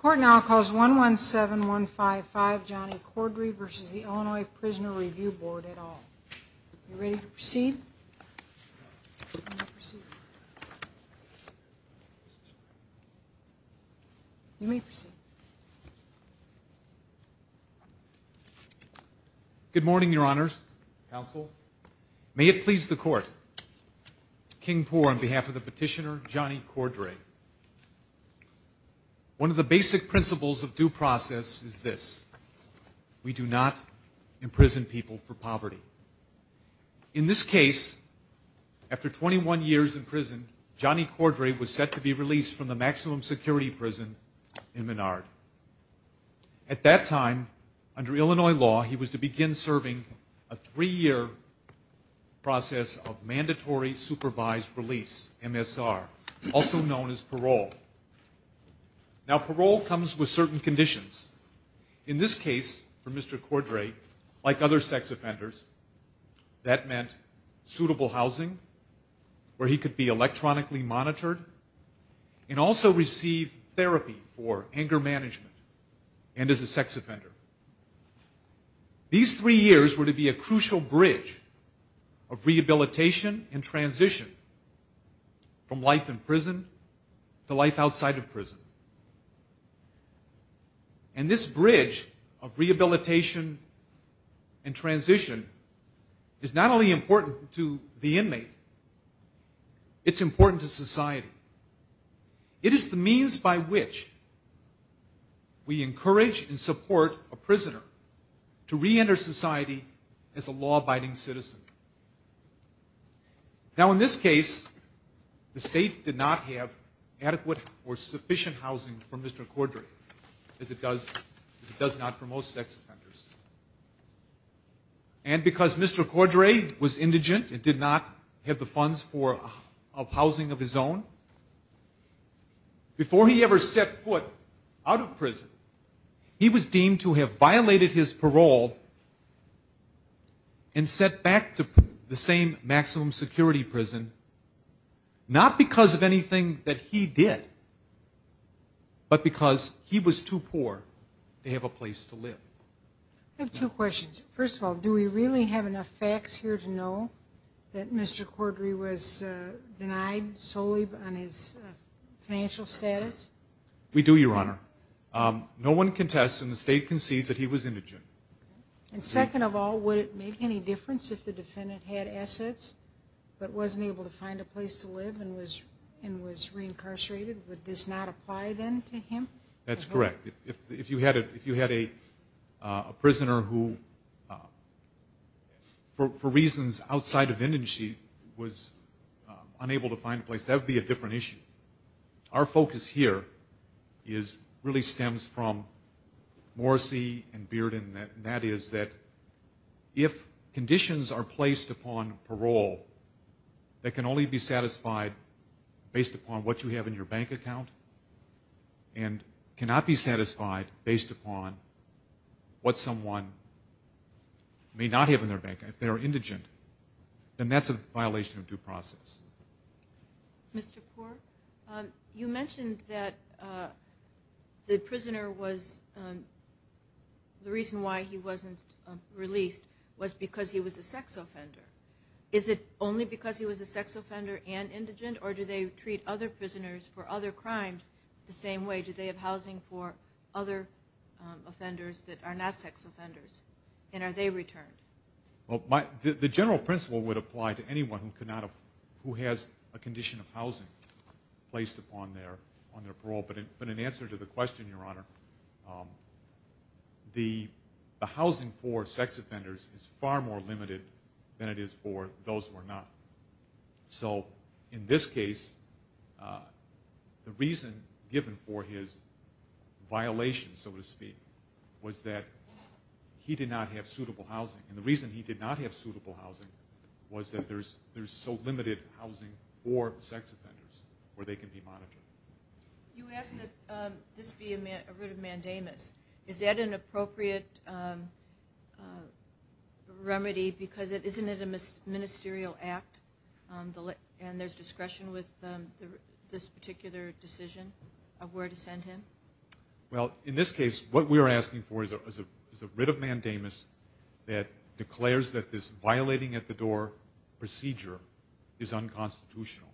Court now calls 1-1-7-1-5-5 Johnny Cordray versus the Illinois Prisoner Review Board at all. You ready to proceed? You may proceed. Good morning your honors, counsel. May it please the court, King One of the basic principles of due process is this. We do not imprison people for poverty. In this case, after 21 years in prison, Johnny Cordray was set to be released from the maximum security prison in Menard. At that time, under Illinois law, he was to begin serving a three-year process of mandatory supervised release, MSR, also known as parole. Now parole comes with certain conditions. In this case, for Mr. Cordray, like other sex offenders, that meant suitable housing where he could be electronically monitored and also receive therapy for anger management and as a sex offender. These three years were to be a crucial bridge of rehabilitation and transition from life in prison to life outside of prison. And this bridge of rehabilitation and transition is not only important to the inmate, it's important to society. It is the means by which we encourage and support a prisoner to reenter society as a law-abiding citizen. Now in this case, the state did not have adequate or sufficient housing for Mr. Cordray as it does not for most sex offenders. And because Mr. Cordray was indigent and did not have the funds for housing of his own, before he ever set foot out of prison, he was deemed to have violated his parole and sent back to the same maximum security prison, not because of anything that he did, but because he was too poor to have a place to live. I have two questions. First of all, do we really have enough facts here to know that Mr. Cordray was denied solely on his financial status? We do, Your Honor. No one contests and the state concedes that he was indigent. And second of all, would it make any difference if the defendant had assets but wasn't able to find a place to live and was and was reincarcerated? Would this not apply then to him? That's correct. If you had a prisoner who, for reasons outside of indigency, was unable to find a place, that would be a different issue. Our focus here really stems from Morrissey and Bearden, and that is that if conditions are placed upon parole that can only be satisfied based upon what you have in your bank account and cannot be satisfied based upon what you have in your bank account, then that's a violation of due process. Mr. Cordray, you mentioned that the prisoner was, the reason why he wasn't released was because he was a sex offender. Is it only because he was a sex offender and indigent, or do they treat other prisoners for other crimes the same way? Do they have housing for other offenders that are not sex offenders, and are they returned? Well, the general principle would apply to anyone who has a condition of housing placed upon their parole, but in answer to the question, Your Honor, the housing for sex offenders is far more limited than it is for those who are not. So in this case, the reason given for his violation, so to speak, was that he did not have suitable housing, and the reason he did not have suitable housing was that there's so limited housing for sex offenders where they can be monitored. You asked that this be a writ of mandamus. Is that an appropriate remedy, because isn't it a ministerial act, and there's discretion with this particular decision of where to send him? Well, in this case, what we were asking for is a writ of mandamus that declares that this violating-at-the-door procedure is unconstitutional.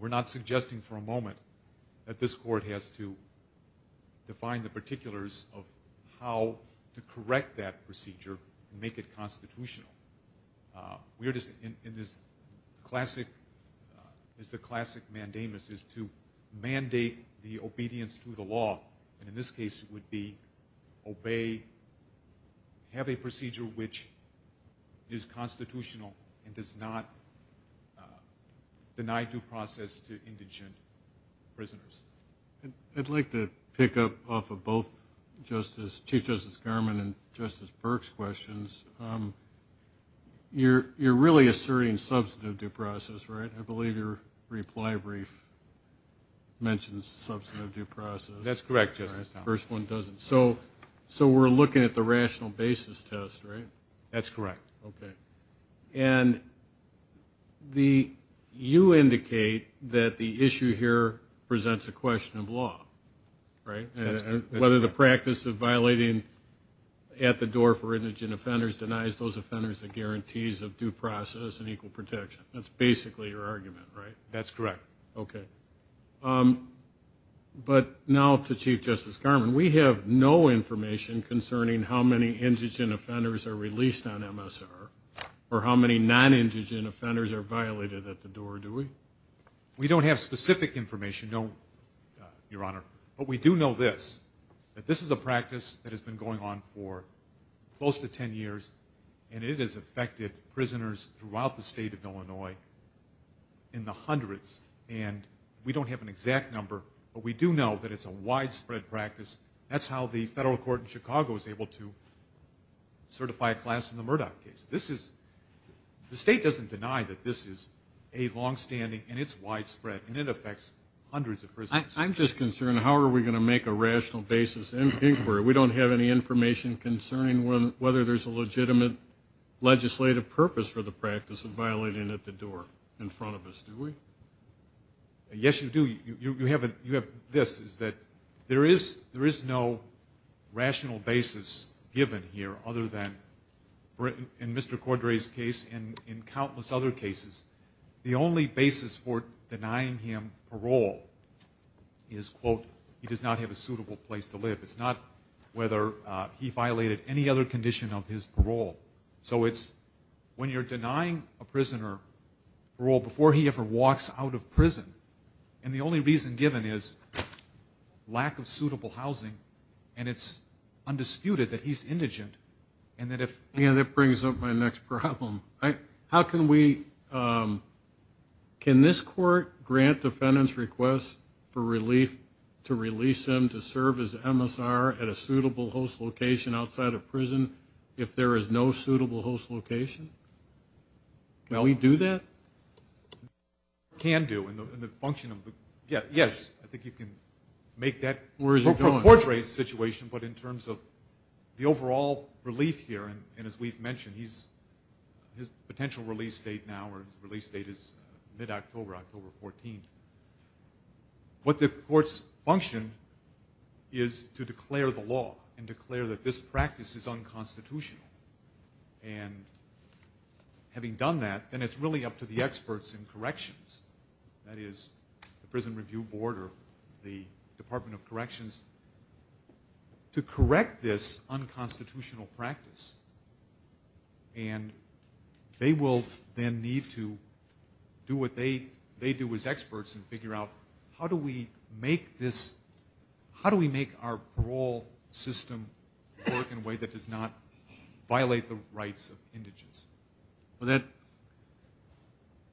We're not suggesting for a moment that this court has to define the particulars of how to correct that procedure and make it constitutional. We're just in this classic, is the classic mandamus is to mandate the obedience to the law, and in this case it would be obey, have a procedure which is constitutional and does not deny due process to indigent prisoners. I'd like to pick up off of both Chief Justice Garmon and Justice Burke's questions. You're really asserting substantive due process, right? I believe your reply brief mentions substantive due process. That's correct, Justice Garmon. The first one doesn't. So we're looking at the rational basis test, right? That's correct. Okay, and you indicate that the issue here presents a question of law, right? Whether the practice of violating-at-the-door for indigent offenders denies those offenders the guarantees of due process and equal protection. That's basically your argument, right? That's correct. Okay, but now to Chief Justice Garmon, we have no information concerning how many indigent offenders are released on MSR or how many non-indigent offenders are violated at the door, do we? We don't have specific information, no, Your Honor, but we do know this, that this is a practice that has been going on for close to ten years and it has affected prisoners throughout the state of Illinois in the exact number, but we do know that it's a widespread practice. That's how the federal court in Chicago is able to certify a class in the Murdoch case. This is, the state doesn't deny that this is a long-standing and it's widespread and it affects hundreds of prisoners. I'm just concerned, how are we going to make a rational basis inquiry? We don't have any information concerning whether there's a legitimate legislative purpose for the practice of violating-at-the-door in front of us, do we? Yes, you do. You have this, is that there is no rational basis given here other than in Mr. Cordray's case and in countless other cases, the only basis for denying him parole is, quote, he does not have a suitable place to live. It's not whether he violated any other condition of his parole before he ever walks out of prison and the only reason given is lack of suitable housing and it's undisputed that he's indigent and that if... Yeah, that brings up my next problem. How can we, can this court grant defendants requests for relief to release him to serve as MSR at a suitable host location outside of prison if there is no suitable host location? Can we do that? Can do in the function of the... Yeah, yes, I think you can make that... Where is he going? Cordray's situation but in terms of the overall relief here and as we've mentioned, he's, his potential release date now or release date is mid-October, October 14. What the court's function is to declare the law and declare that this practice is unconstitutional and having done that, then it's really up to the experts in corrections, that is the Prison Review Board or the Department of Corrections to correct this unconstitutional practice and they will then need to do what they, they do as experts and figure out how do we make this, how do we make our parole system work in a way that does not violate the rights of indigents? Well that,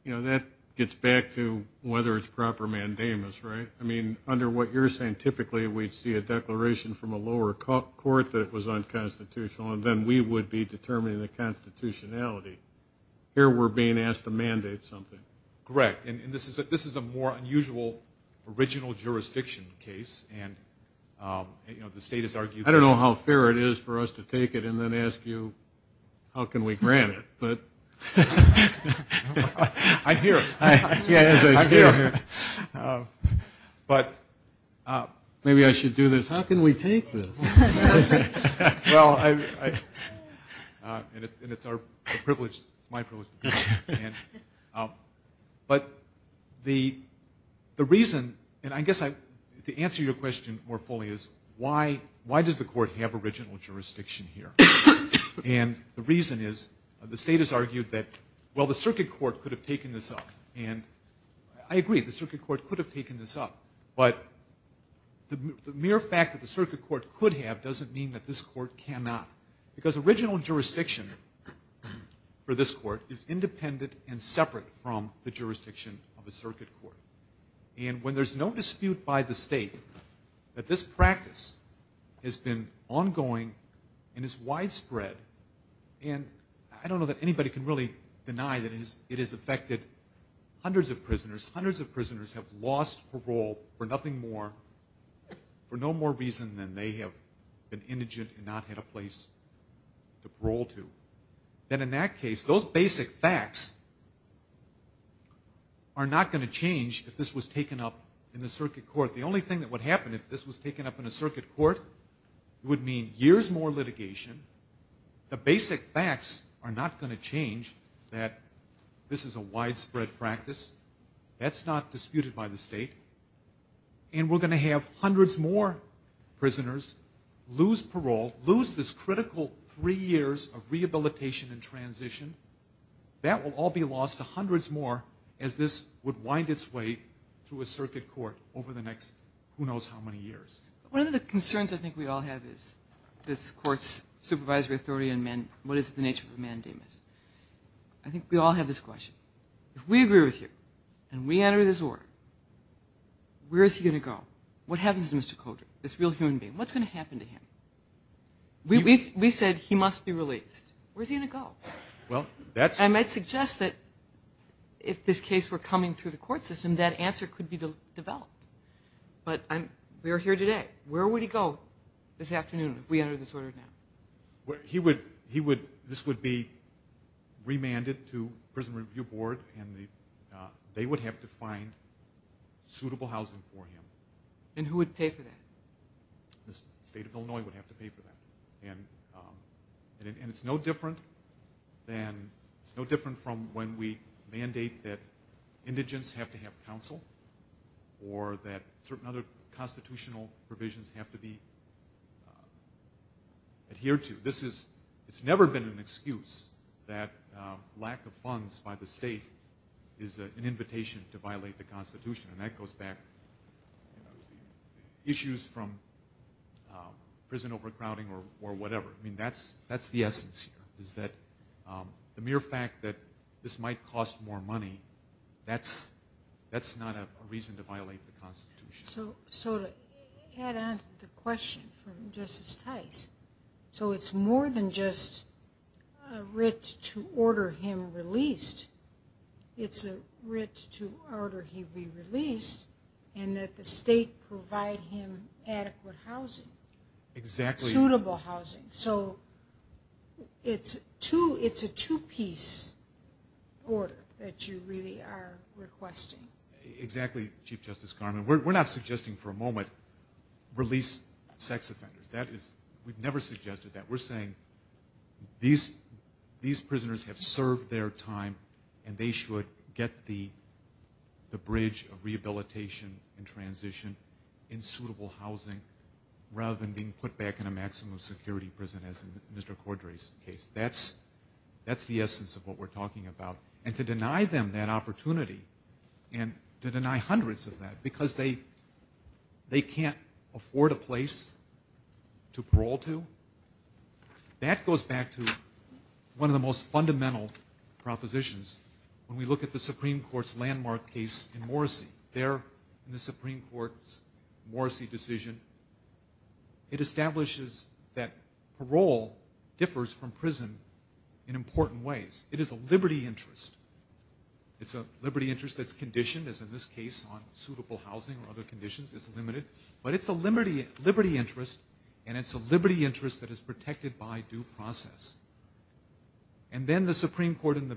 you know, that gets back to whether it's proper mandamus, right? I mean, under what you're saying, typically we'd see a declaration from a lower court that it was unconstitutional and then we would be determining the constitutionality. Here we're being asked to mandate something. Correct, and this is a more unusual original jurisdiction case and, you know, the state has argued... I don't know how fair it is for us to take it and then ask you how can we grant it, but... I'm here. Yes, I'm here. But maybe I should do this, how can we take this? Well, and it's our privilege, it's my privilege, but the reason, and I guess I, to answer your question more fully is why, why does the court have original jurisdiction here? And the reason is the state has argued that, well, the circuit court could have taken this up and I agree the circuit court could have taken this up, but the mere fact that the circuit court could have doesn't mean that this court cannot, because original jurisdiction for this court is independent and separate from the jurisdiction of a circuit court. And when there's no dispute by the state that this practice has been ongoing and is widespread, and I don't know that anybody can really deny that it has affected hundreds of prisoners, hundreds of prisoners have lost parole for nothing more, for no more reason than they have been indigent and not had a place to parole to, then in that case those basic facts are not going to change if this was taken up in the circuit court. The only thing that would happen if this was taken up in a circuit court, it would mean years more litigation, the basic facts are not going to change that this is a widespread practice, that's not disputed by the state, and we're going to have hundreds more prisoners lose parole, lose this critical three years of rehabilitation and transition, that will all be lost to hundreds more as this would wind its way through a circuit court over the next who knows how many years. One of the concerns I think we all have is this court's supervisory authority on what is the nature of a mandamus. I think we all have this question. If we agree with you and we enter this order, where is he going to go? What happens to Mr. Coulter, this real human being? What's going to happen to him? We said he must be released. Where's he going to go? I might suggest that if this case were coming through the court system, that answer could be developed. But we are here today. Where would he go this afternoon if we entered this order now? He would, this would be remanded to prison review board and they would have to find suitable housing for him. And who would pay for that? The state of Illinois would have to pay for that. And it's no different than, it's no different from when we mandate that indigents have to have counsel or that certain other constitutional provisions have to be adhered to. This is, it's never been an excuse that lack of funds by the state is an invitation to violate the Constitution. And that goes back issues from prison overcrowding or whatever. I mean that's, that's the essence here. Is that the mere fact that this might cost more money, that's, that's not a reason to violate the Constitution. So, so to add on to the question from Justice Tice, so it's more than just a writ to order him released. It's a writ to order he be released and that the state provide him adequate housing, suitable housing. So it's two, it's a two-piece order that you really are requesting. Exactly, Chief Justice Carmen. We're not suggesting for a moment release sex offenders. That is, we've never suggested that. We're saying these, these prisoners have served their time and they should get the, the bridge of rehabilitation and transition in suitable housing rather than being put back in a maximum security prison as in Mr. Cordray's case. That's, that's the essence of what we're talking about. And to deny them that opportunity and to deny hundreds of that because they, they can't afford a place to parole to, that goes back to one of the most fundamental propositions. When we look at the Supreme Court's Morrissey, there in the Supreme Court's Morrissey decision, it establishes that parole differs from prison in important ways. It is a liberty interest. It's a liberty interest that's conditioned as in this case on suitable housing or other conditions. It's limited. But it's a liberty, liberty interest and it's a liberty interest that is protected by due process. And then the Supreme Court in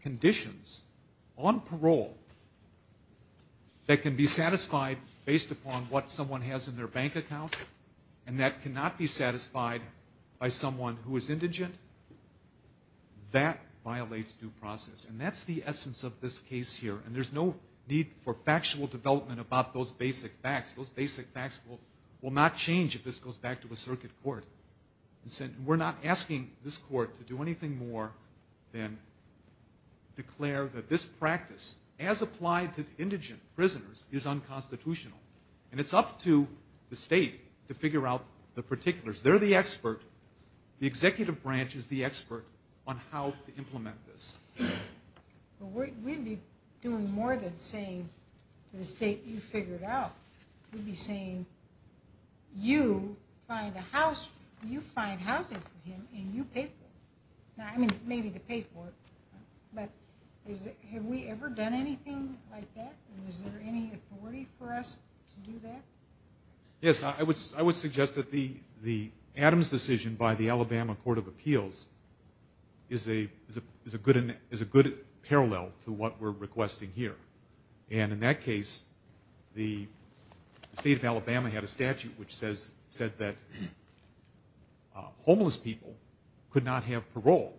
conditions on parole that can be satisfied based upon what someone has in their bank account and that cannot be satisfied by someone who is indigent, that violates due process. And that's the essence of this case here. And there's no need for factual development about those basic facts. Those basic facts will, will not change if this goes back to the circuit court. We're not asking this court to do anything more than declare that this practice as applied to indigent prisoners is unconstitutional. And it's up to the state to figure out the particulars. They're the expert. The executive branch is the expert on how to implement this. We'd be doing more than saying to the state, you figure it out. We'd be saying, you find a house, you find housing for him and you pay for it. Now, I mean, maybe they pay for it, but is it, have we ever done anything like that? And is there any authority for us to do that? Yes, I would, I would suggest that the, the Adams decision by the Alabama Court of Appeals is a, is a good, is a good parallel to what we're requesting here. And in that case, the state of Alabama had a statute which says, said that homeless people could not have parole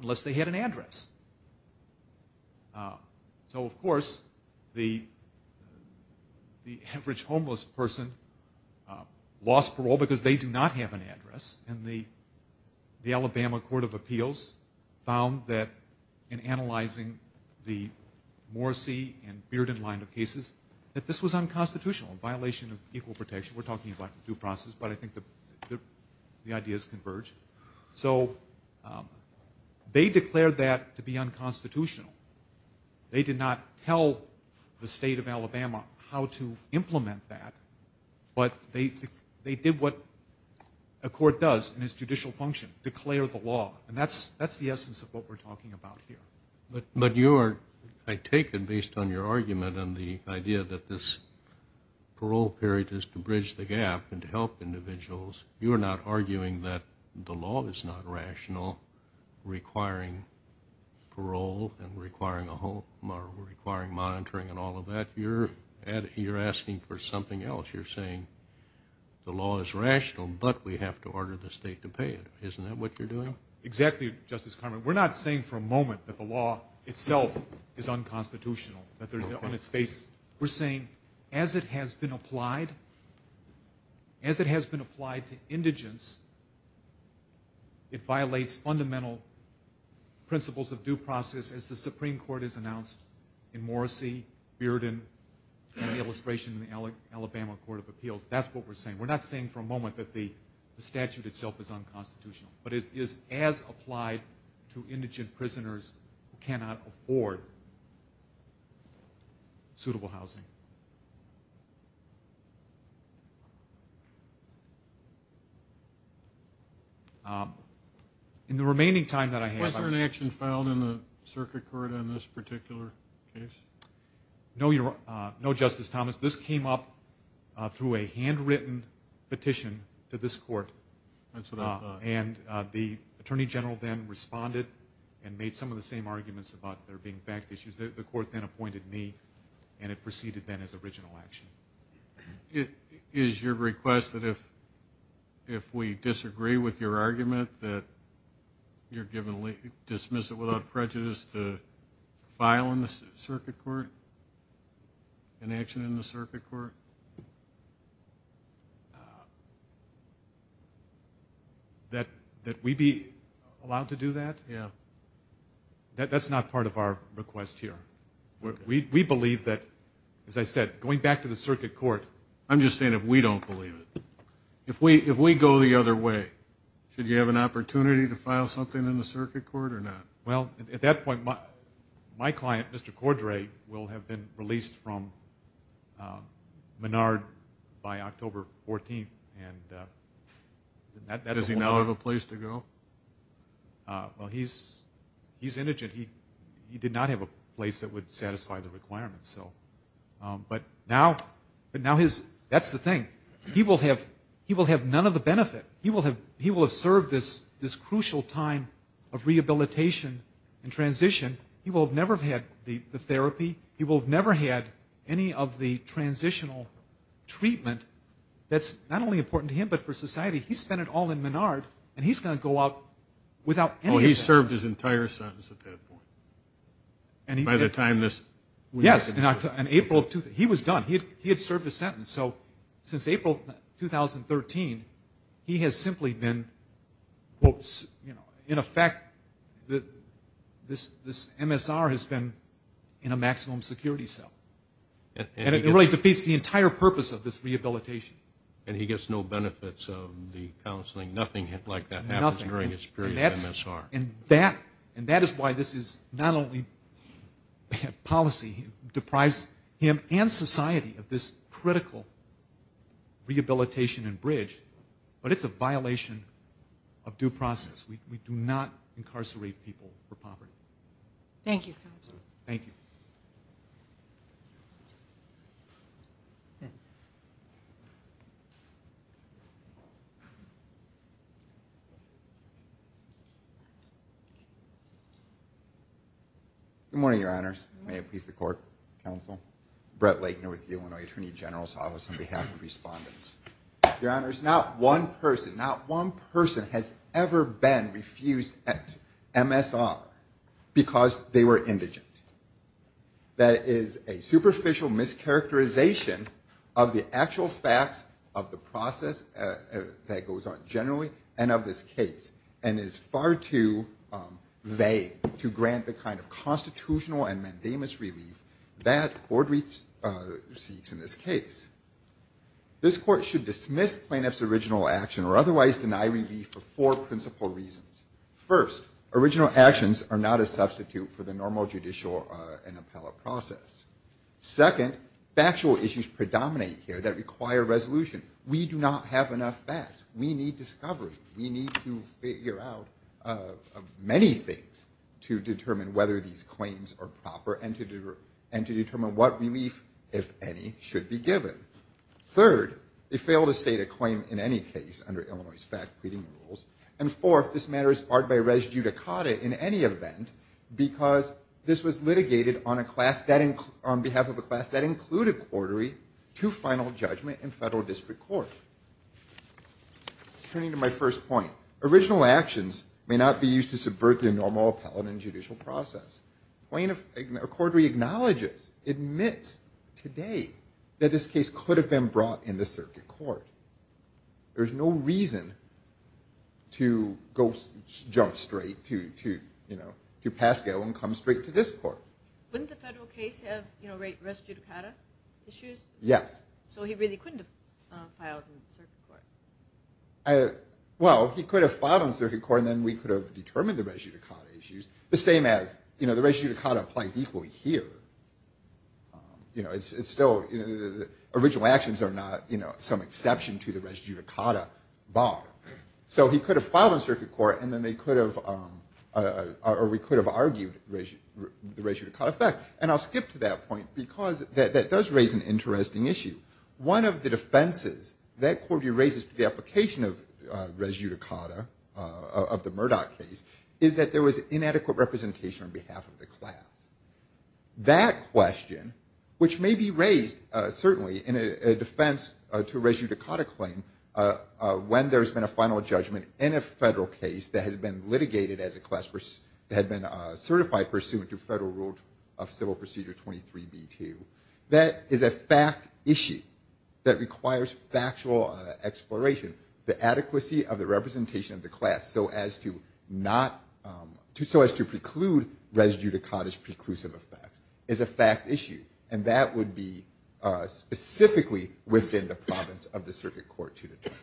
unless they had an address. So of course, the, the average homeless person lost parole because they do not have an address. And the, the Alabama Court of Appeals found that in analyzing the Morrissey and Bearden line of cases, that this was unconstitutional, a violation of equal protection. We're talking about due process, but I think the, the, the ideas converge. So they declared that to be unconstitutional. They did not tell the state of Alabama how to implement that, but they, they did what a court does in its judicial function, declare the law. And that's, that's the essence of what we're talking about here. But, but you are, I take it based on your argument and the idea that this parole period is to bridge the gap and to help individuals. You are not arguing that the law is not rational, requiring parole and requiring a home or requiring monitoring and all of that. You're asking for something else. You're saying the law is rational, but we have to order the state to pay it. Isn't that what you're doing? Exactly, Justice Carman. We're not saying for a moment that the law itself is unconstitutional, that they're on its face. We're saying as it has been applied, as it has been applied to indigents, it violates fundamental principles of due process as the Supreme Court has announced in Morrissey, Bearden, and the illustration in the Alabama Court of Appeals. That's what we're saying. We're not saying for a moment that the statute itself is unconstitutional, but it is as applied to indigent prisoners who cannot afford suitable housing. Was there an action filed in the circuit court in this particular case? No, Justice Thomas. This came up through a handwritten petition to this court. That's what I thought. The Attorney General then responded and made some of the same arguments about there being fact issues. The court then appointed me, and it proceeded then as original action. Is your request that if we disagree with your argument, that you dismiss it without prejudice to file an action in the circuit court? That we be allowed to do that? Yeah. That's not part of our request here. We believe that, as I said, going back to the circuit court... I'm just saying if we don't believe it. If we go the other way, should you have an opportunity to file something in the circuit court or not? Well, at that point, my client, Mr. Cordray, will have been released from Menard by October 14th. Does he now have a place to go? Well, he's indigent. He did not have a place that would satisfy the requirements. But now that's the thing. He will have none of the benefit. He will have served this crucial time of rehabilitation and transition. He will have never had the therapy. He will have never had any of the transitional treatment that's not only important to him but for society. He spent it all in Menard, and he's going to go out without any of that. Oh, he served his entire sentence at that point? By the time this... Yes. He was done. He had served his sentence. So since April 2013, he has simply been, in effect, this MSR has been in a maximum security cell. And it really defeats the entire purpose of this rehabilitation. And he gets no benefits of the counseling? Nothing like that happens during his period of MSR? Nothing. And that is why this is not only policy, it deprives him and society of this critical rehabilitation and bridge. But it's a violation of due process. We do not incarcerate people for poverty. Thank you, Counselor. Thank you. Good morning, Your Honors. May it please the court. Counsel. Brett Laitner with the Illinois Attorney General's Office on behalf of respondents. Your Honors, not one person, not one person has ever been refused MSR because they were characterization of the actual facts of the process that goes on generally and of this case. And it is far too vague to grant the kind of constitutional and mandamus relief that the Court seeks in this case. This Court should dismiss plaintiff's original action or otherwise deny relief for four principal reasons. First, original actions are not a Second, factual issues predominate here that require resolution. We do not have enough facts. We need discovery. We need to figure out many things to determine whether these claims are proper and to determine what relief, if any, should be given. Third, it failed to state a claim in any case under Illinois' fact-treating rules. And fourth, this matter is barred by res judicata in any event because this was litigated on behalf of a class that included corridoree to final judgment in federal district court. Turning to my first point, original actions may not be used to subvert the normal appellate and judicial process. A corridoree acknowledges, admits today that this case could have been filed in the circuit court. There's no reason to go jump straight to Pascal and come straight to this court. Wouldn't the federal case have res judicata issues? Yes. So he really couldn't have filed in circuit court? Well, he could have filed in circuit court and then we could have determined the res judicata issues. The same as, you know, the res judicata applies equally here. You know, it's still, original actions are not, you know, some exception to the res judicata bar. So he could have filed in circuit court and then they could have, or we could have argued the res judicata effect. And I'll skip to that point because that does raise an interesting issue. One of the defenses that corridoree raises to the application of res judicata, of the Murdoch case, is that there was inadequate representation on behalf of the class. That question, which may be raised certainly in a defense to a res judicata claim, when there's been a final judgment in a federal case that has been litigated as a class, that had been certified pursuant to federal rule of civil procedure 23b2, that is a fact issue that requires factual exploration. The adequacy of the representation of the class so as to preclude res judicata's preclusive effect is a fact issue. And that would be specifically within the province of the circuit court to determine.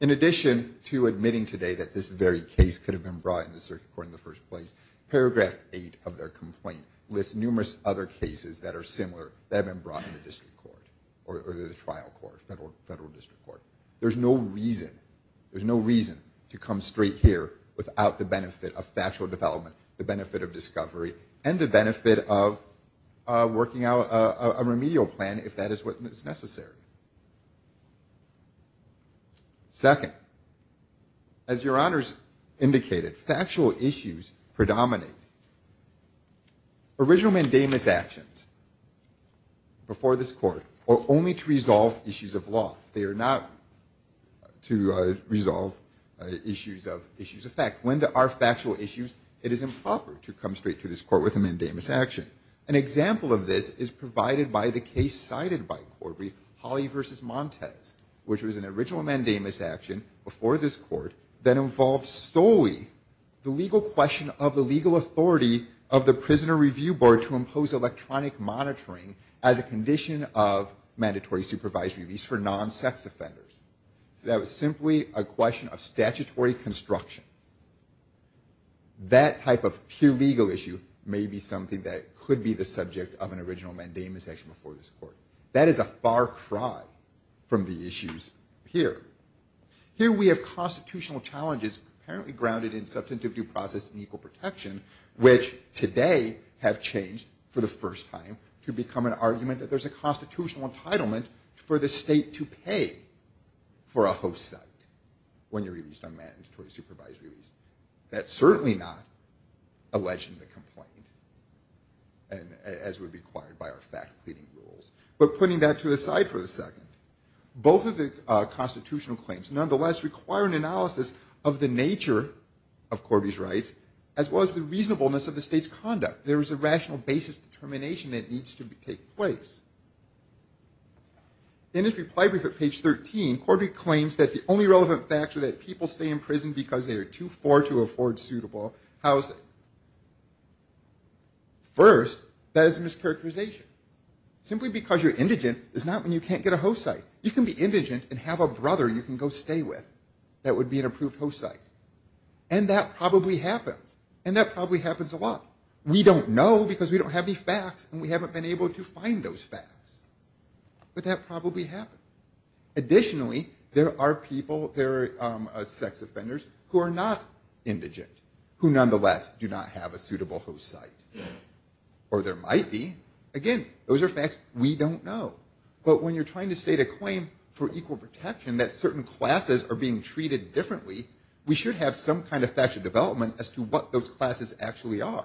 In addition to admitting today that this very case could have been brought in the circuit court in the first place, paragraph eight of their complaint lists numerous other cases that are similar that have been brought in the district court or the trial court, federal district court. There's no reason, there's no reason to come straight here without the benefit of factual development, the benefit of discovery, and the benefit of working out a remedial plan if that is what is necessary. Second, as your honors indicated, factual issues predominate. Original mandamus actions, before this court, are only to resolve issues of law. They are not to resolve issues of issues of fact. When there are factual issues, it is improper to come straight to this court with a mandamus action. An example of this is provided by the case cited by Corby, Holly v. Montez, which was an original mandamus action before this court that involved solely the legal question of the legal authority of the prisoner review board to impose electronic monitoring as a condition of mandatory supervised release for non-sex offenders. So that was simply a question of statutory construction. That type of pure legal issue may be something that could be the subject of an original mandamus action before this court. That is a far cry from the issues here. Here we have constitutional challenges apparently grounded in substantive due process and equal protection, which today have changed for the first time to become an argument that there's a constitutional entitlement for the state to pay for a host site when you're released on mandatory supervised release. That's certainly not alleged in the complaint, as would be acquired by our fact-cleaning rules. But putting that to the side for a second, both of the constitutional claims nonetheless require an analysis of the nature of Corby's rights, as well as the reasonableness of the state's conduct. There is a rational basis determination that needs to take place. In his reply brief at page 13, Corby claims that the only relevant facts are that people stay in prison because they are too poor to get a host site. You can be indigent and have a brother you can go stay with that would be an approved host site. And that probably happens. And that probably happens a lot. We don't know because we don't have any facts and we haven't been able to find those facts. But that probably happens. Additionally, there are people, there are sex offenders who are not indigent, who nonetheless do not have a suitable host site. Or there might be. Again, those are facts we don't know. But when you're trying to state a claim for equal protection that certain classes are being treated differently, we should have some kind of factual development as to what those classes actually are.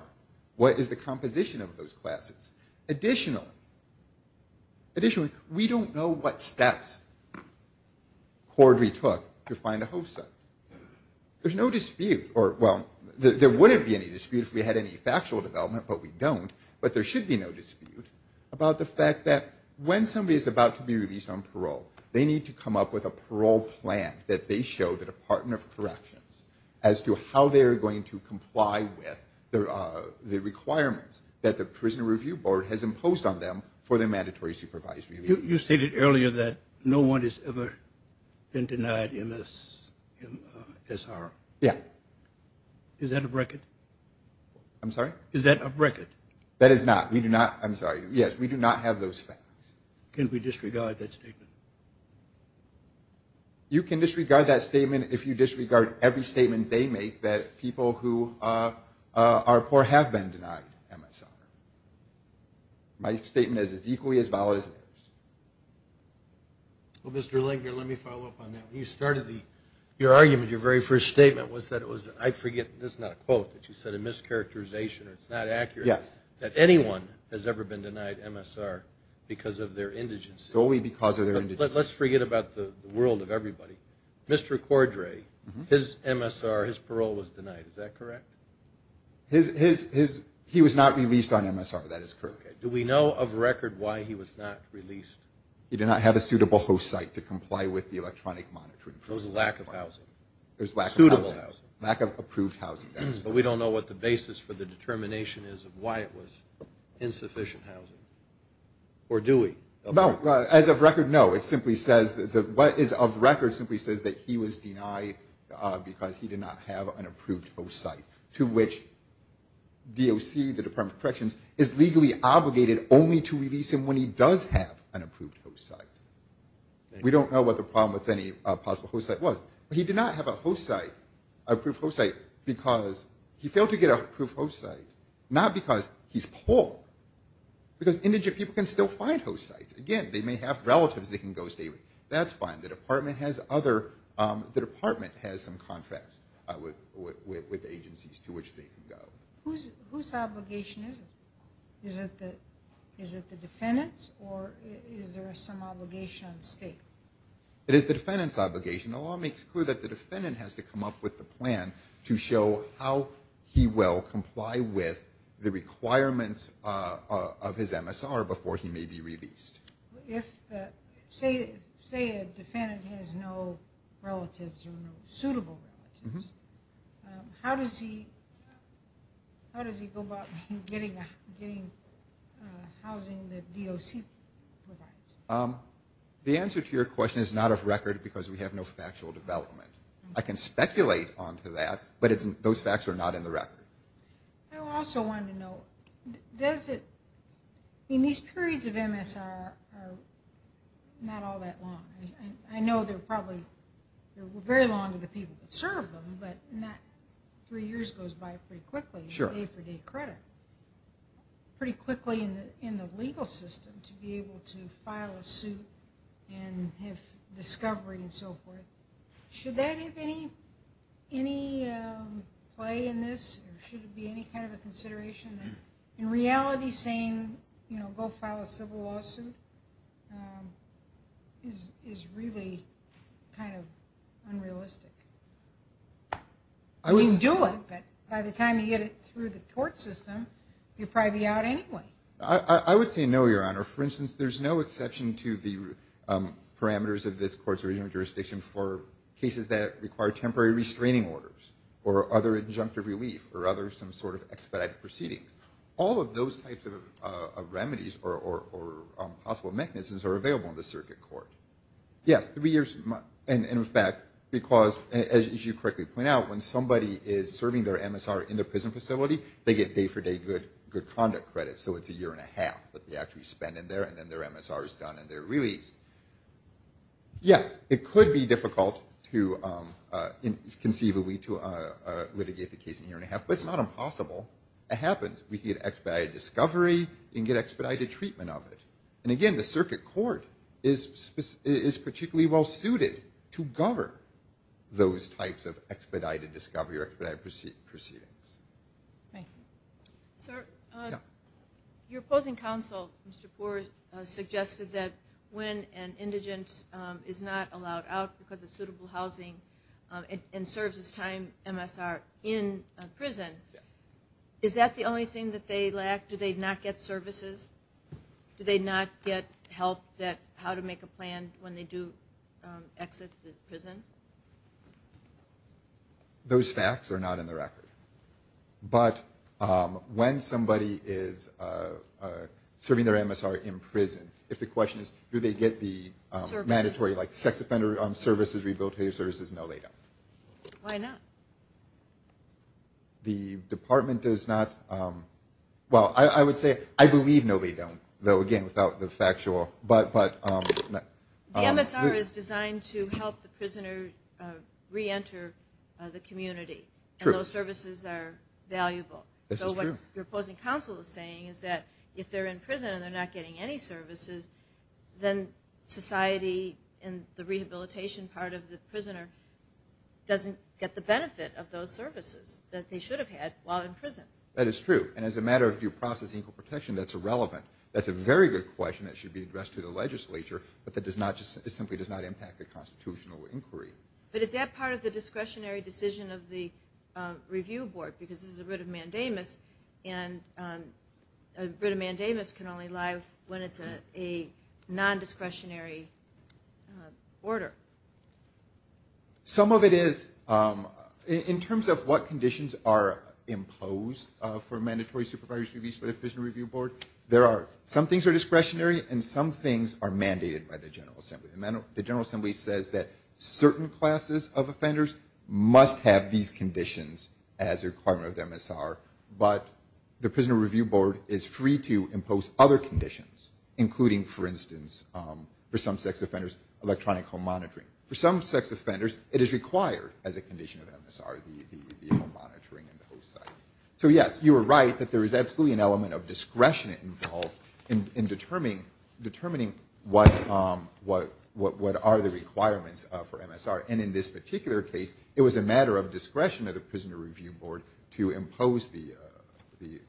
What is the composition of those classes? Additionally, additionally, we don't know what steps Corby took to find a host site. There's no dispute or well, there wouldn't be any dispute if we had any factual development, but we don't. But there should be no dispute about the fact that when somebody is about to be released on parole, they need to come up with a parole plan that they show the Department of Corrections as to how they are going to comply with the requirements that the Prison Review Board has imposed on them for their mandatory supervisory leave. You stated earlier that no one has ever been denied MSR. Yeah. Is that a bracket? I'm sorry? Is that a bracket? That is not. We do not. I'm sorry. Yes, we do not have those facts. Can we disregard that statement? You can disregard that statement if you disregard every statement they make that people who are poor have been denied MSR. My statement is equally as valid as theirs. Well, Mr. Langer, let me follow up on that. When you started your argument, your very first statement was that it was, I forget, this is not a quote that you said, a mischaracterization or it's not accurate. Yes. That anyone has ever been denied MSR because of their indigence. Only because of their indigence. Let's forget about the world of everybody. Mr. Cordray, his MSR, his parole was denied. Is that correct? He was not released on MSR. That is correct. Do we know of record why he was not released? He did not have a suitable host site to comply with the electronic monitoring. So it was a lack of housing. Suitable housing. Lack of approved housing. But we don't know what the basis for the determination is of why it was insufficient housing. Or do we? No. As of record, no. It simply says, what is of record simply says that he was denied because he did not have an approved host site to which DOC, the Department of Corrections, is legally obligated only to release him when he does have an approved host site. We don't know what the problem with any possible host site was. He did not have a host site, an approved host site, because he failed to get an approved host site. Not because he's poor. Because indigent people can still find host sites. Again, they may have relatives they can go stay with. That's fine. The Department has other, the Department has some contracts with agencies to which they can go. Whose obligation is it? Is it the defendant's or is there some obligation on the state? It is the defendant's obligation. But we know that the defendant has to come up with a plan to show how he will comply with the requirements of his MSR before he may be released. If, say, a defendant has no relatives or no suitable relatives, how does he go about getting housing that DOC provides? The answer to your question is not of record because we have no factual development. I can speculate on to that, but those facts are not in the record. I also wanted to know, does it, I mean, these periods of MSR are not all that long. I know they're probably, they're very long to the people that serve them, but not three years goes by pretty quickly. Sure. Day for day credit. Pretty quickly in the legal system to be able to file a suit and have discovery and so forth. Should that have any play in this or should it be any kind of a consideration? In reality saying, you know, go file a civil lawsuit is really kind of unrealistic. You can do it, but by the time you get it through the court system, you'll probably be out anyway. I would say no, Your Honor. For instance, there's no exception to the parameters of this court's original jurisdiction for cases that require temporary restraining orders or other injunctive relief or other some sort of expedited proceedings. All of those types of remedies or possible mechanisms are available in the circuit court. Yes, three years. And in fact, because as you correctly point out, when somebody is serving their MSR in the prison facility, they get day for day good conduct credit. So it's a year and a half that they actually spend in there and then their MSR is done and they're released. Yes, it could be difficult to conceivably to litigate the case in a year and a half, but it's not impossible. It happens. We get expedited discovery and get expedited treatment of it. And again, the circuit court is particularly well suited to govern those types of expedited discovery or expedited proceedings. Thank you. Your opposing counsel, Mr. Poore, suggested that when an indigent is not allowed out because of suitable housing and serves his time MSR in prison, is that the only thing that they lack? Do they not get services? Do they not get help how to make a plan when they do exit the prison? Those facts are not in the record. But when somebody is serving their MSR in prison, if the question is, do they get the mandatory sex offender services, rehabilitative services? No, they don't. Why not? The department does not. Well, I would say I believe no, they don't, though, again, without the factual. But the MSR is designed to help the prisoner reenter the community. And those services are valuable. So what your opposing counsel is saying is that if they're in prison and they're not getting any services, then society and the rehabilitation part of the prisoner doesn't get the benefit of those services that they should have had while in prison. That is true. And as a matter of due process and equal protection, that's irrelevant. That's a very good question that should be addressed to the legislature. But that simply does not impact the constitutional inquiry. But is that part of the discretionary decision of the review board? Because this is a writ of mandamus. And a writ of mandamus can only lie when it's a non-discretionary order. Some of it is. In terms of what conditions are imposed for mandatory supervisory release for the prisoner review board, some things are discretionary and some things are mandated by the General Assembly. The General Assembly says that certain classes of offenders must have these conditions as a requirement of the MSR. But the prisoner review board is free to impose other conditions, including, for instance, for some sex offenders, electronic home monitoring. For some sex offenders, it is required as a condition of MSR, the home monitoring and the host site. So, yes, you are right that there is absolutely an element of discretion involved in determining what are the requirements for MSR. And in this particular case, it was a matter of discretion of the prisoner review board to impose the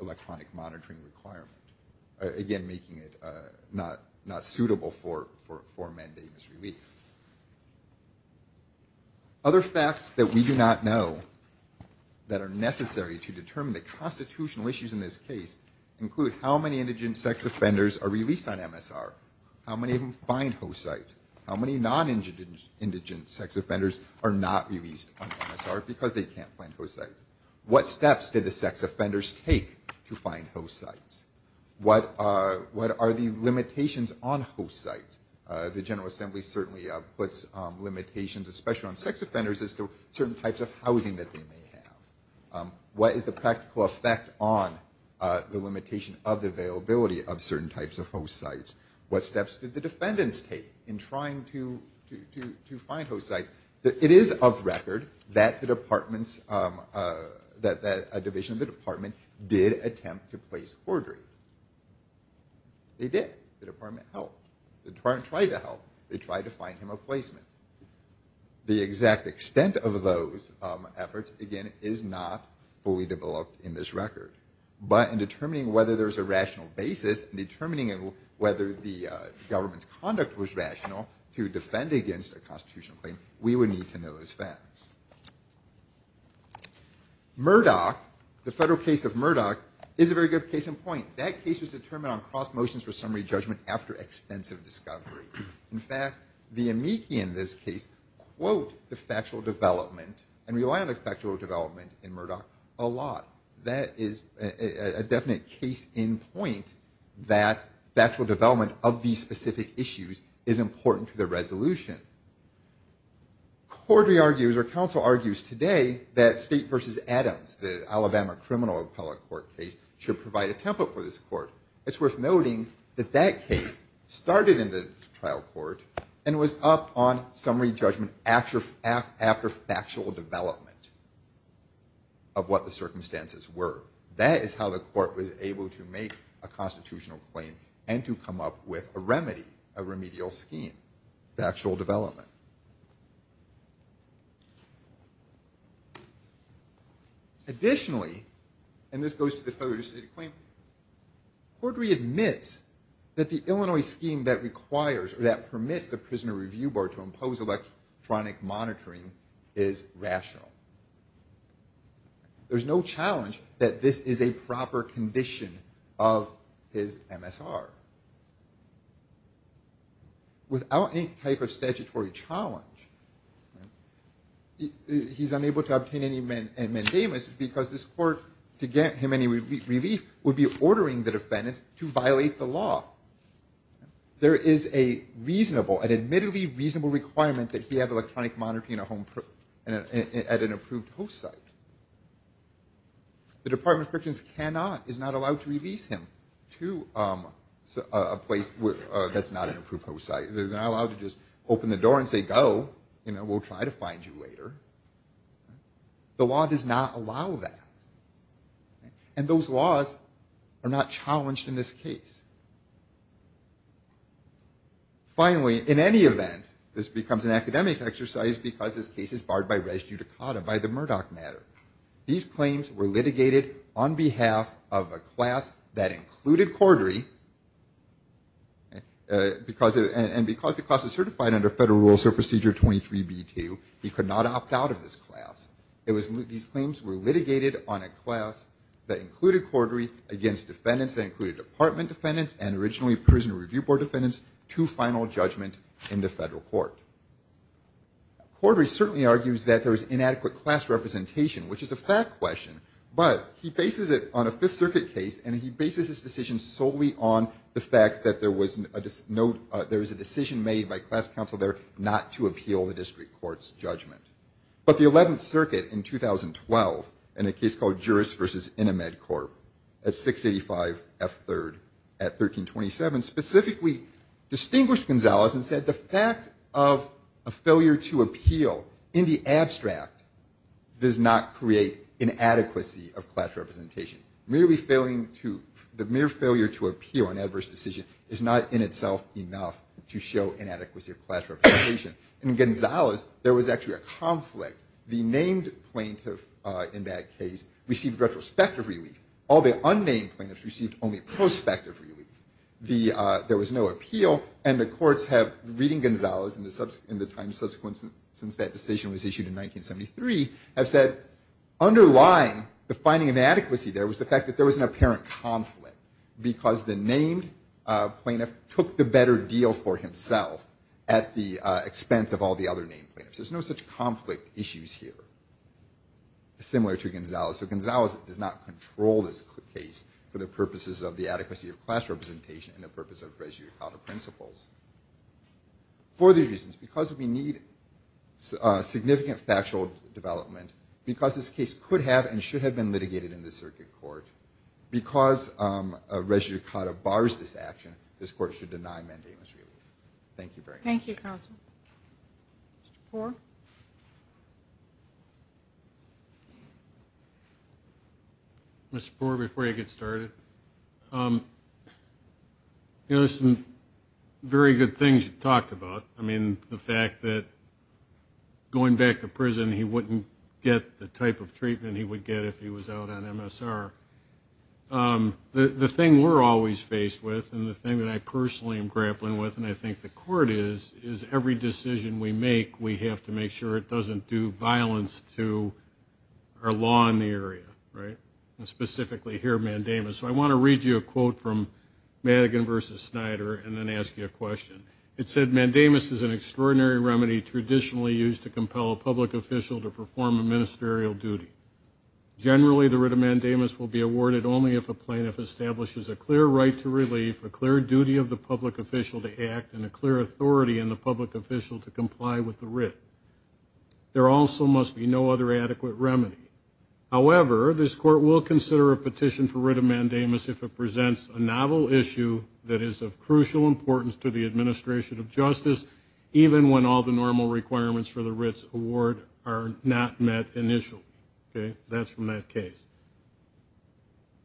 electronic monitoring requirement, again, making it not suitable for mandamus relief. Other facts that we do not know that are necessary to determine the constitutional issues in this case include how many indigent sex offenders are released on MSR, how many of them find host sites, how many non-indigent sex offenders are not released on MSR because they can't find host sites. What steps did the sex offenders take to find host sites? What are the limitations on host sites? The General Assembly certainly puts limitations, especially on sex offenders, as to certain types of housing that they may have. What is the practical effect on the limitation of the availability of certain types of host sites? What steps did the defendants take in trying to find host sites? It is of record that the department's that a division of the department did attempt to place Cordray. They did. The department helped. The department tried to help. They tried to find him a placement. The exact extent of those efforts, again, is not fully developed in this record. But in determining whether there's a rational basis, in determining whether the government's conduct was rational, to defend against a constitutional claim, we would need to know those facts. Murdoch, the federal case of Murdoch, is a very good case in point. That case was determined on cross motions for summary judgment after extensive discovery. In fact, the amici in this case quote the factual development and rely on the factual development in Murdoch a lot. That is a definite case in point that factual development of these specific issues is important to the resolution. Cordray argues, or counsel argues today, that state versus Adams, the Alabama criminal appellate court case, should provide a template for this court. It's worth noting that that case started in the trial court and was up on summary judgment after factual development of what the circumstances were. That is how the court was able to make a constitutional claim and to come up with a remedy, a remedial scheme, factual development. Additionally, and this goes to the federal state of claim, Cordray admits that the Illinois scheme that requires or that permits the prisoner review board to impose electronic monitoring is rational. There's no challenge that this is a proper condition of his MSR. Without any type of statutory challenge, he's unable to obtain any mandamus because this court, to get him any relief, would be ordering the defendants to violate the law. There is a reasonable, an admittedly reasonable requirement that he have electronic monitoring at an approved host site. The Department of Prisons cannot, is not allowed to release him to a place that's not an approved host site. They're not allowed to just open the door and say go. We'll try to find you later. The law does not allow that. And those laws are not challenged in this case. Finally, in any event, this becomes an academic exercise because this case is barred by res judicata by the Murdoch matter. These claims were litigated on behalf of a class that included Cordray, and because the class is certified under Federal Rules of Procedure 23B2, he could not opt out of this class. These claims were litigated on a class that included Cordray against defendants that included department defendants and originally prison review board defendants to final judgment in the federal court. Cordray certainly argues that there is inadequate class representation, which is a fact question, but he bases it on a Fifth Circuit case, and he bases his decision solely on the fact that there was a decision made by class counsel there not to appeal the district court's judgment. But the 11th Circuit in 2012, in a case called Juris v. Inamed Corp. at 685 F. 3rd at 1327, specifically distinguished Gonzales and said the fact of a failure to appeal in the abstract does not create inadequacy of class representation. The mere failure to appeal an adverse decision is not in itself enough to show inadequacy of class representation. In Gonzales, there was actually a conflict. The named plaintiff in that case received retrospective relief. All the unnamed plaintiffs received only prospective relief. There was no appeal, and the courts have, reading Gonzales in the time subsequent since that decision was issued in 1973, have said underlying the finding of inadequacy there was the fact that there was an apparent conflict because the named plaintiff took the better deal for himself at the expense of all the other named plaintiffs. There's no such conflict issues here, similar to Gonzales. So Gonzales does not control this case for the purposes of the adequacy of class representation and the purpose of res judicata principles. For these reasons, because we need significant factual development, because this case could have and should have been litigated in the circuit court, because a res judicata bars this action, this court should deny mandamus relief. Thank you very much. Thank you, counsel. Mr. Poore. Mr. Poore, before you get started, there's some very good things you've talked about. I mean, the fact that going back to prison he wouldn't get the type of treatment he would get if he was out on MSR. The thing we're always faced with and the thing that I personally am grappling with and I think the court is, is every decision we make we have to make sure it doesn't do violence to our law in the area, right? And specifically here, mandamus. So I want to read you a quote from Madigan v. Snyder and then ask you a question. It said, mandamus is an extraordinary remedy traditionally used to compel a public official to perform a ministerial duty. Generally, the writ of mandamus will be awarded only if a plaintiff establishes a clear right to relief, a clear duty of the public official to act, and a clear authority in the public official to comply with the writ. There also must be no other adequate remedy. However, this court will consider a petition for writ of mandamus if it presents a novel issue that is of crucial importance to the administration of justice, even when all the normal requirements for the writ's award are not met initially. Okay? That's from that case.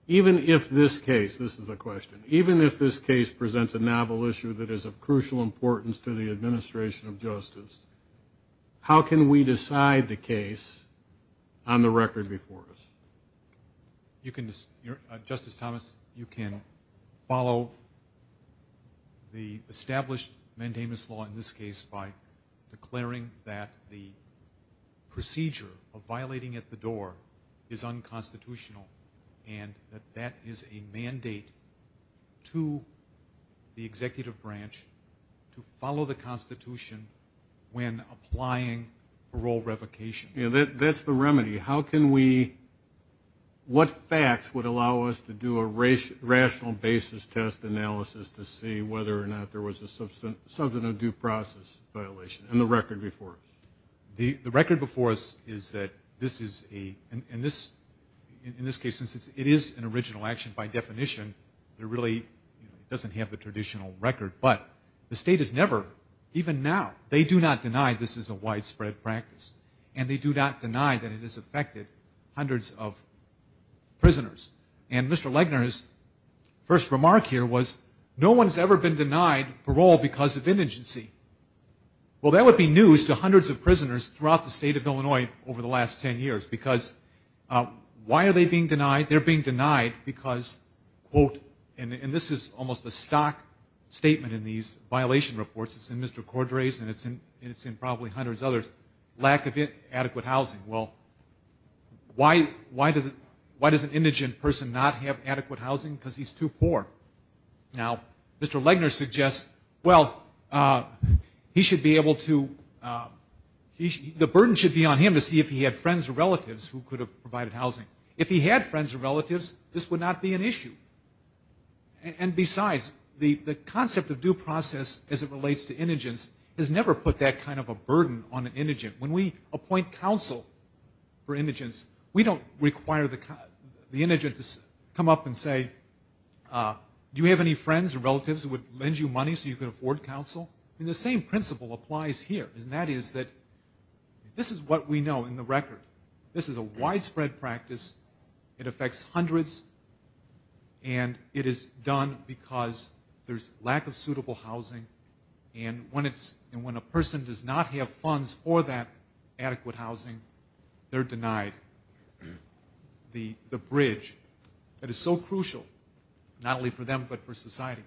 Even if this case, this is a question, even if this case presents a novel issue that is of crucial importance to the administration of justice, how can we decide the case on the record before us? You can, Justice Thomas, you can follow the established mandamus law in this case by declaring that the procedure of violating at the door is unconstitutional and that that is a mandate to the executive branch to follow the Constitution when applying parole revocation. Yeah, that's the remedy. How can we, what facts would allow us to do a rational basis test analysis to see whether or not there was a substantive due process violation in the record before us? The record before us is that this is a, in this case, since it is an original action by definition, it really doesn't have the traditional record. But the state has never, even now, they do not deny this is a affected hundreds of prisoners. And Mr. Legner's first remark here was no one's ever been denied parole because of indigency. Well, that would be news to hundreds of prisoners throughout the state of Illinois over the last ten years because why are they being denied? They're being denied because, quote, and this is almost a stock statement in these cases, they're being denied adequate housing. Well, why does an indigent person not have adequate housing? Because he's too poor. Now, Mr. Legner suggests, well, he should be able to, the burden should be on him to see if he had friends or relatives who could have provided housing. If he had friends or relatives, this would not be an issue. And besides, the concept of due process as it relates to indigents has never put that kind of a burden on an indigent. When we appoint counsel for indigents, we don't require the indigent to come up and say, do you have any friends or relatives who would lend you money so you could afford counsel? I mean, the same principle applies here. And that is that this is what we know in the record. This is a widespread practice. It affects hundreds. And it is done because there's a lack of suitable housing. And when a person does not have funds for that adequate housing, they're denied the bridge that is so crucial, not only for them, but for society.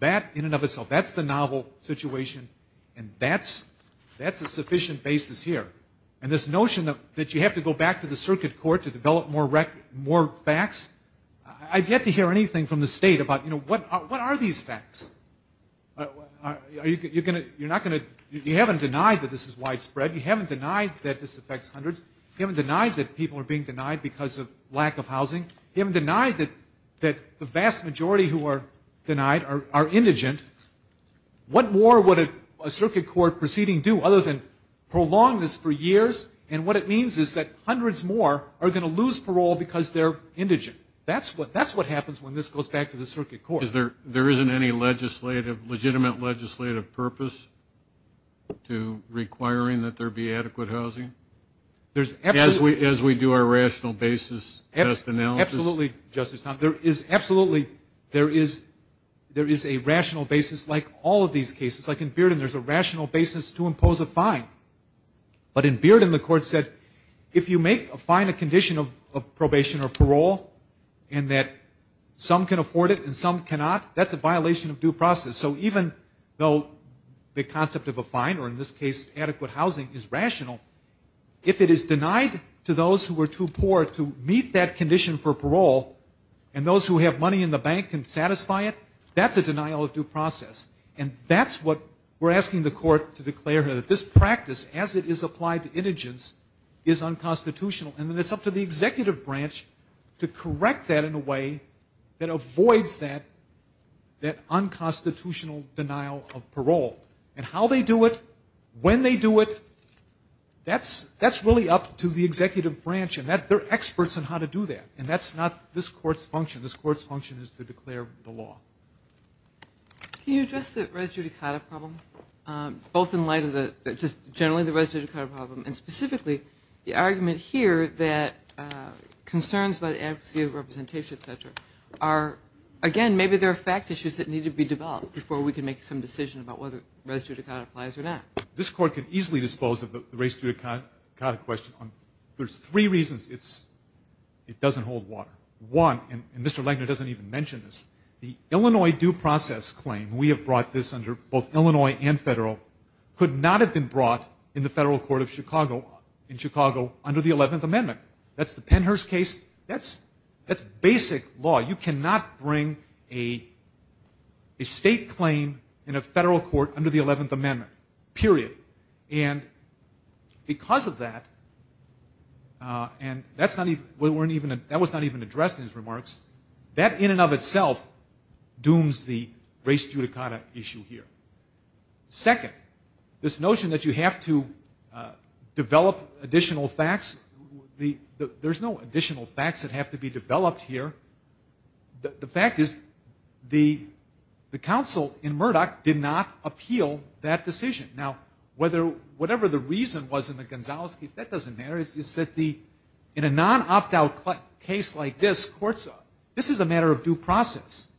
That in and of itself, that's the novel situation. And that's a sufficient basis here. And this notion that you have to go back to the circuit court to develop more facts, I've yet to hear anything from the state about what are these facts? You haven't denied that this is widespread. You haven't denied that this affects hundreds. You haven't denied that people are being denied because of lack of housing. You haven't denied that the vast majority who are denied are indigent. What more would a circuit court proceeding do other than prolong this for years? And what it means is that hundreds more are going to lose parole because they're indigent. That's what happens when this goes back to the circuit court. There isn't any legislative, legitimate legislative purpose to requiring that there be adequate housing? As we do our rational basis test analysis? Absolutely, Justice Thompson. There is absolutely, there is a rational basis like all of these cases. Like in Bearden, there's a rational basis. If you make a fine a condition of probation or parole and that some can afford it and some cannot, that's a violation of due process. So even though the concept of a fine or in this case adequate housing is rational, if it is denied to those who are too poor to meet that condition for parole and those who have money in the bank can satisfy it, that's a denial of due process. And that's what we're asking the court to declare here, that this practice as it is applied to indigents is unconstitutional. And then it's up to the executive branch to correct that in a way that avoids that unconstitutional denial of parole. And how they do it, when they do it, that's really up to the executive branch. And they're experts on how to do that. And that's not this court's function. This court's function is to declare the law. Can you address the res judicata problem, both in light of the, just generally the res judicata problem and specifically the argument here that concerns by the advocacy of representation, et cetera, are, again, maybe they're fact issues that need to be developed before we can make some decision about whether res judicata applies or not. This court can easily dispose of the res judicata question. There's three reasons it doesn't hold water. One, and Mr. Legner doesn't even mention this, the Illinois due process claim, we have brought this under both Illinois and federal, could not have been brought in the federal court of Chicago under the 11th Amendment. That's the Pennhurst case. That's basic law. You cannot bring a state claim in a federal court under the 11th Amendment. Period. And because of that, and that's not even, that was not even addressed in his remarks, that in and of itself dooms the res judicata issue here. Second, this notion that you have to develop additional facts, there's no additional facts that have to be developed here. The fact is, the counsel in Murdoch did not appeal that decision. Now, whether, whatever the reason was in the Gonzales case, that doesn't matter. It's that in a non-opt-out case like this, courts, this is a matter of due process.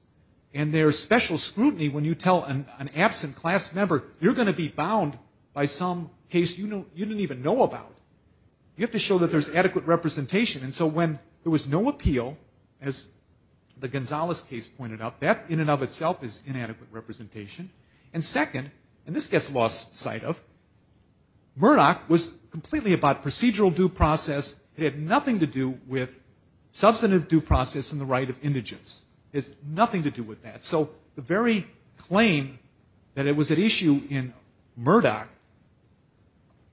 And there's special scrutiny when you tell an absent class member, you're going to be bound by some case you didn't even know about. You have to show that there's adequate representation. And so when there was no appeal, as the Gonzales case pointed out, that in and of itself is inadequate representation. And second, and this gets lost sight of, Murdoch was completely about procedural due process. It had nothing to do with substantive due process and the right of indigence. It has nothing to do with that. So the very claim that it was an issue in Murdoch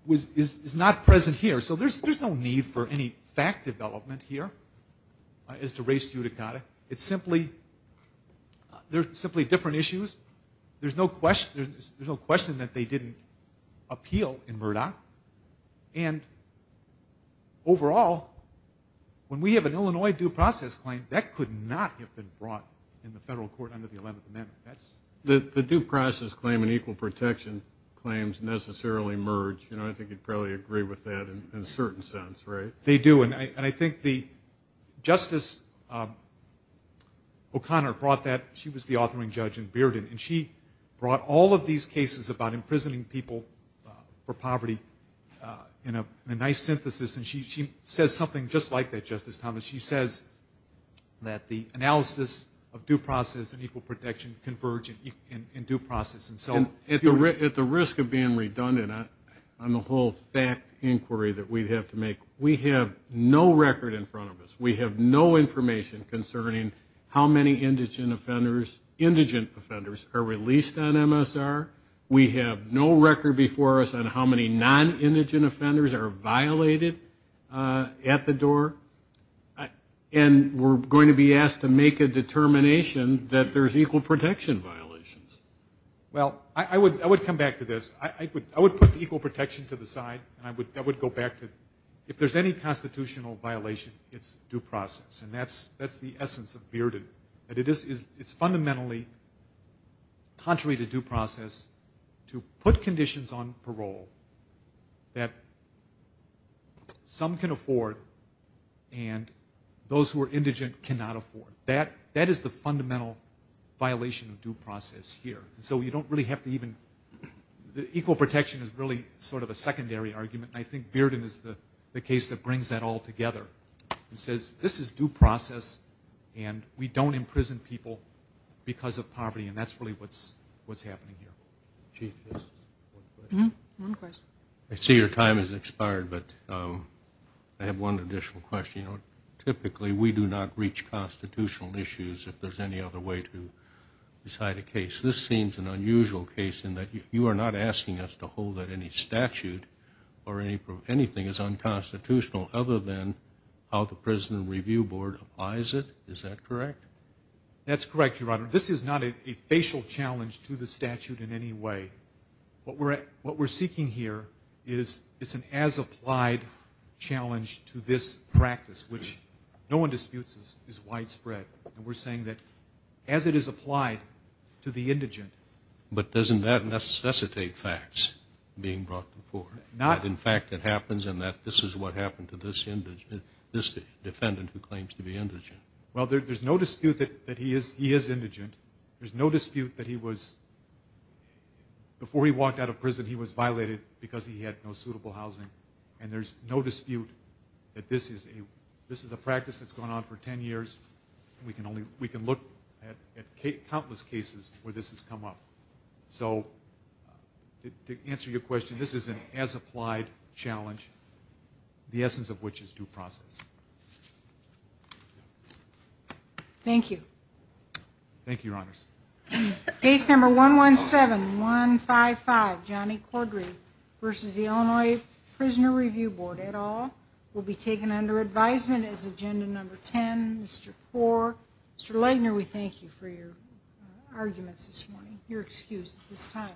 was, is not present here. So there's no need for any fact development here as to res judicata. It's simply, they're simply different issues. There's no question, there's no question that they didn't appeal in Murdoch. And overall, when we have an Illinois due process claim, that could not have been brought in the federal court under the 11th Amendment. That's... The due process claim and equal protection claims necessarily merge. I think you'd probably agree with that in a certain sense, right? They do. And I think the Justice O'Connor brought that. She was the authoring judge in Bearden. And she brought all of these cases about imprisoning people for poverty in a nice synthesis. And she says something just like that, Justice Thomas. She says that the analysis of due process and equal protection converge in due process. And so... At the risk of being redundant on the whole fact inquiry that we'd have to make, we have no record in front of us. We have no information concerning how many indigent offenders are released on MSR. We have no record before us on how many non-indigent offenders are violated at the door. And we're going to be asked to make a determination that there's equal protection violations. Well, I would come back to this. I would put equal protection to the side. And I would go back to, if there's any constitutional violation, it's due process. And that's the essence of Bearden. That it is fundamentally contrary to due process to put conditions on parole that some can afford and those who are indigent cannot afford. That is the fundamental violation of due process here. So you don't really have to even... Equal protection is really sort of a secondary argument. And I think Bearden is the case that brings that all together. It says this is due process and we don't imprison people because of poverty. And that's really what's happening here. I see your time has expired, but I have one additional question. You know, typically we do not reach constitutional issues if there's any other way to decide a case. This seems an unusual case in that you are not asking us to hold that any statute or anything is unconstitutional other than how the Prison Review Board applies it. Is that correct? That's correct, Your Honor. This is not a facial challenge to the statute in any way. What we're seeking here is it's an as-applied challenge to this practice, which no one disputes is widespread. And we're saying that as it is applied to the indigent... But doesn't that necessitate facts being brought before? In fact, it happens in that this is what happened to this defendant who claims to be indigent. Well, there's no dispute that he is indigent. There's no dispute that he was... Before he walked out of prison, he was violated because he had no suitable housing. And there's no dispute that this is a practice that's gone on for ten years. We can look at countless cases where this has come up. So to answer your question, this is an as-applied challenge, the essence of which is due to the fact that it's an as-applied challenge. It's a very simple process. Thank you. Thank you, Your Honors. Case number 117155, Johnny Cordree, v. The Illinois Prison Review Board, et al. will be taken under advisement as agenda number ten. Mr. Poore, Mr. Lightner, we thank you for your arguments this morning. You're excused at this time.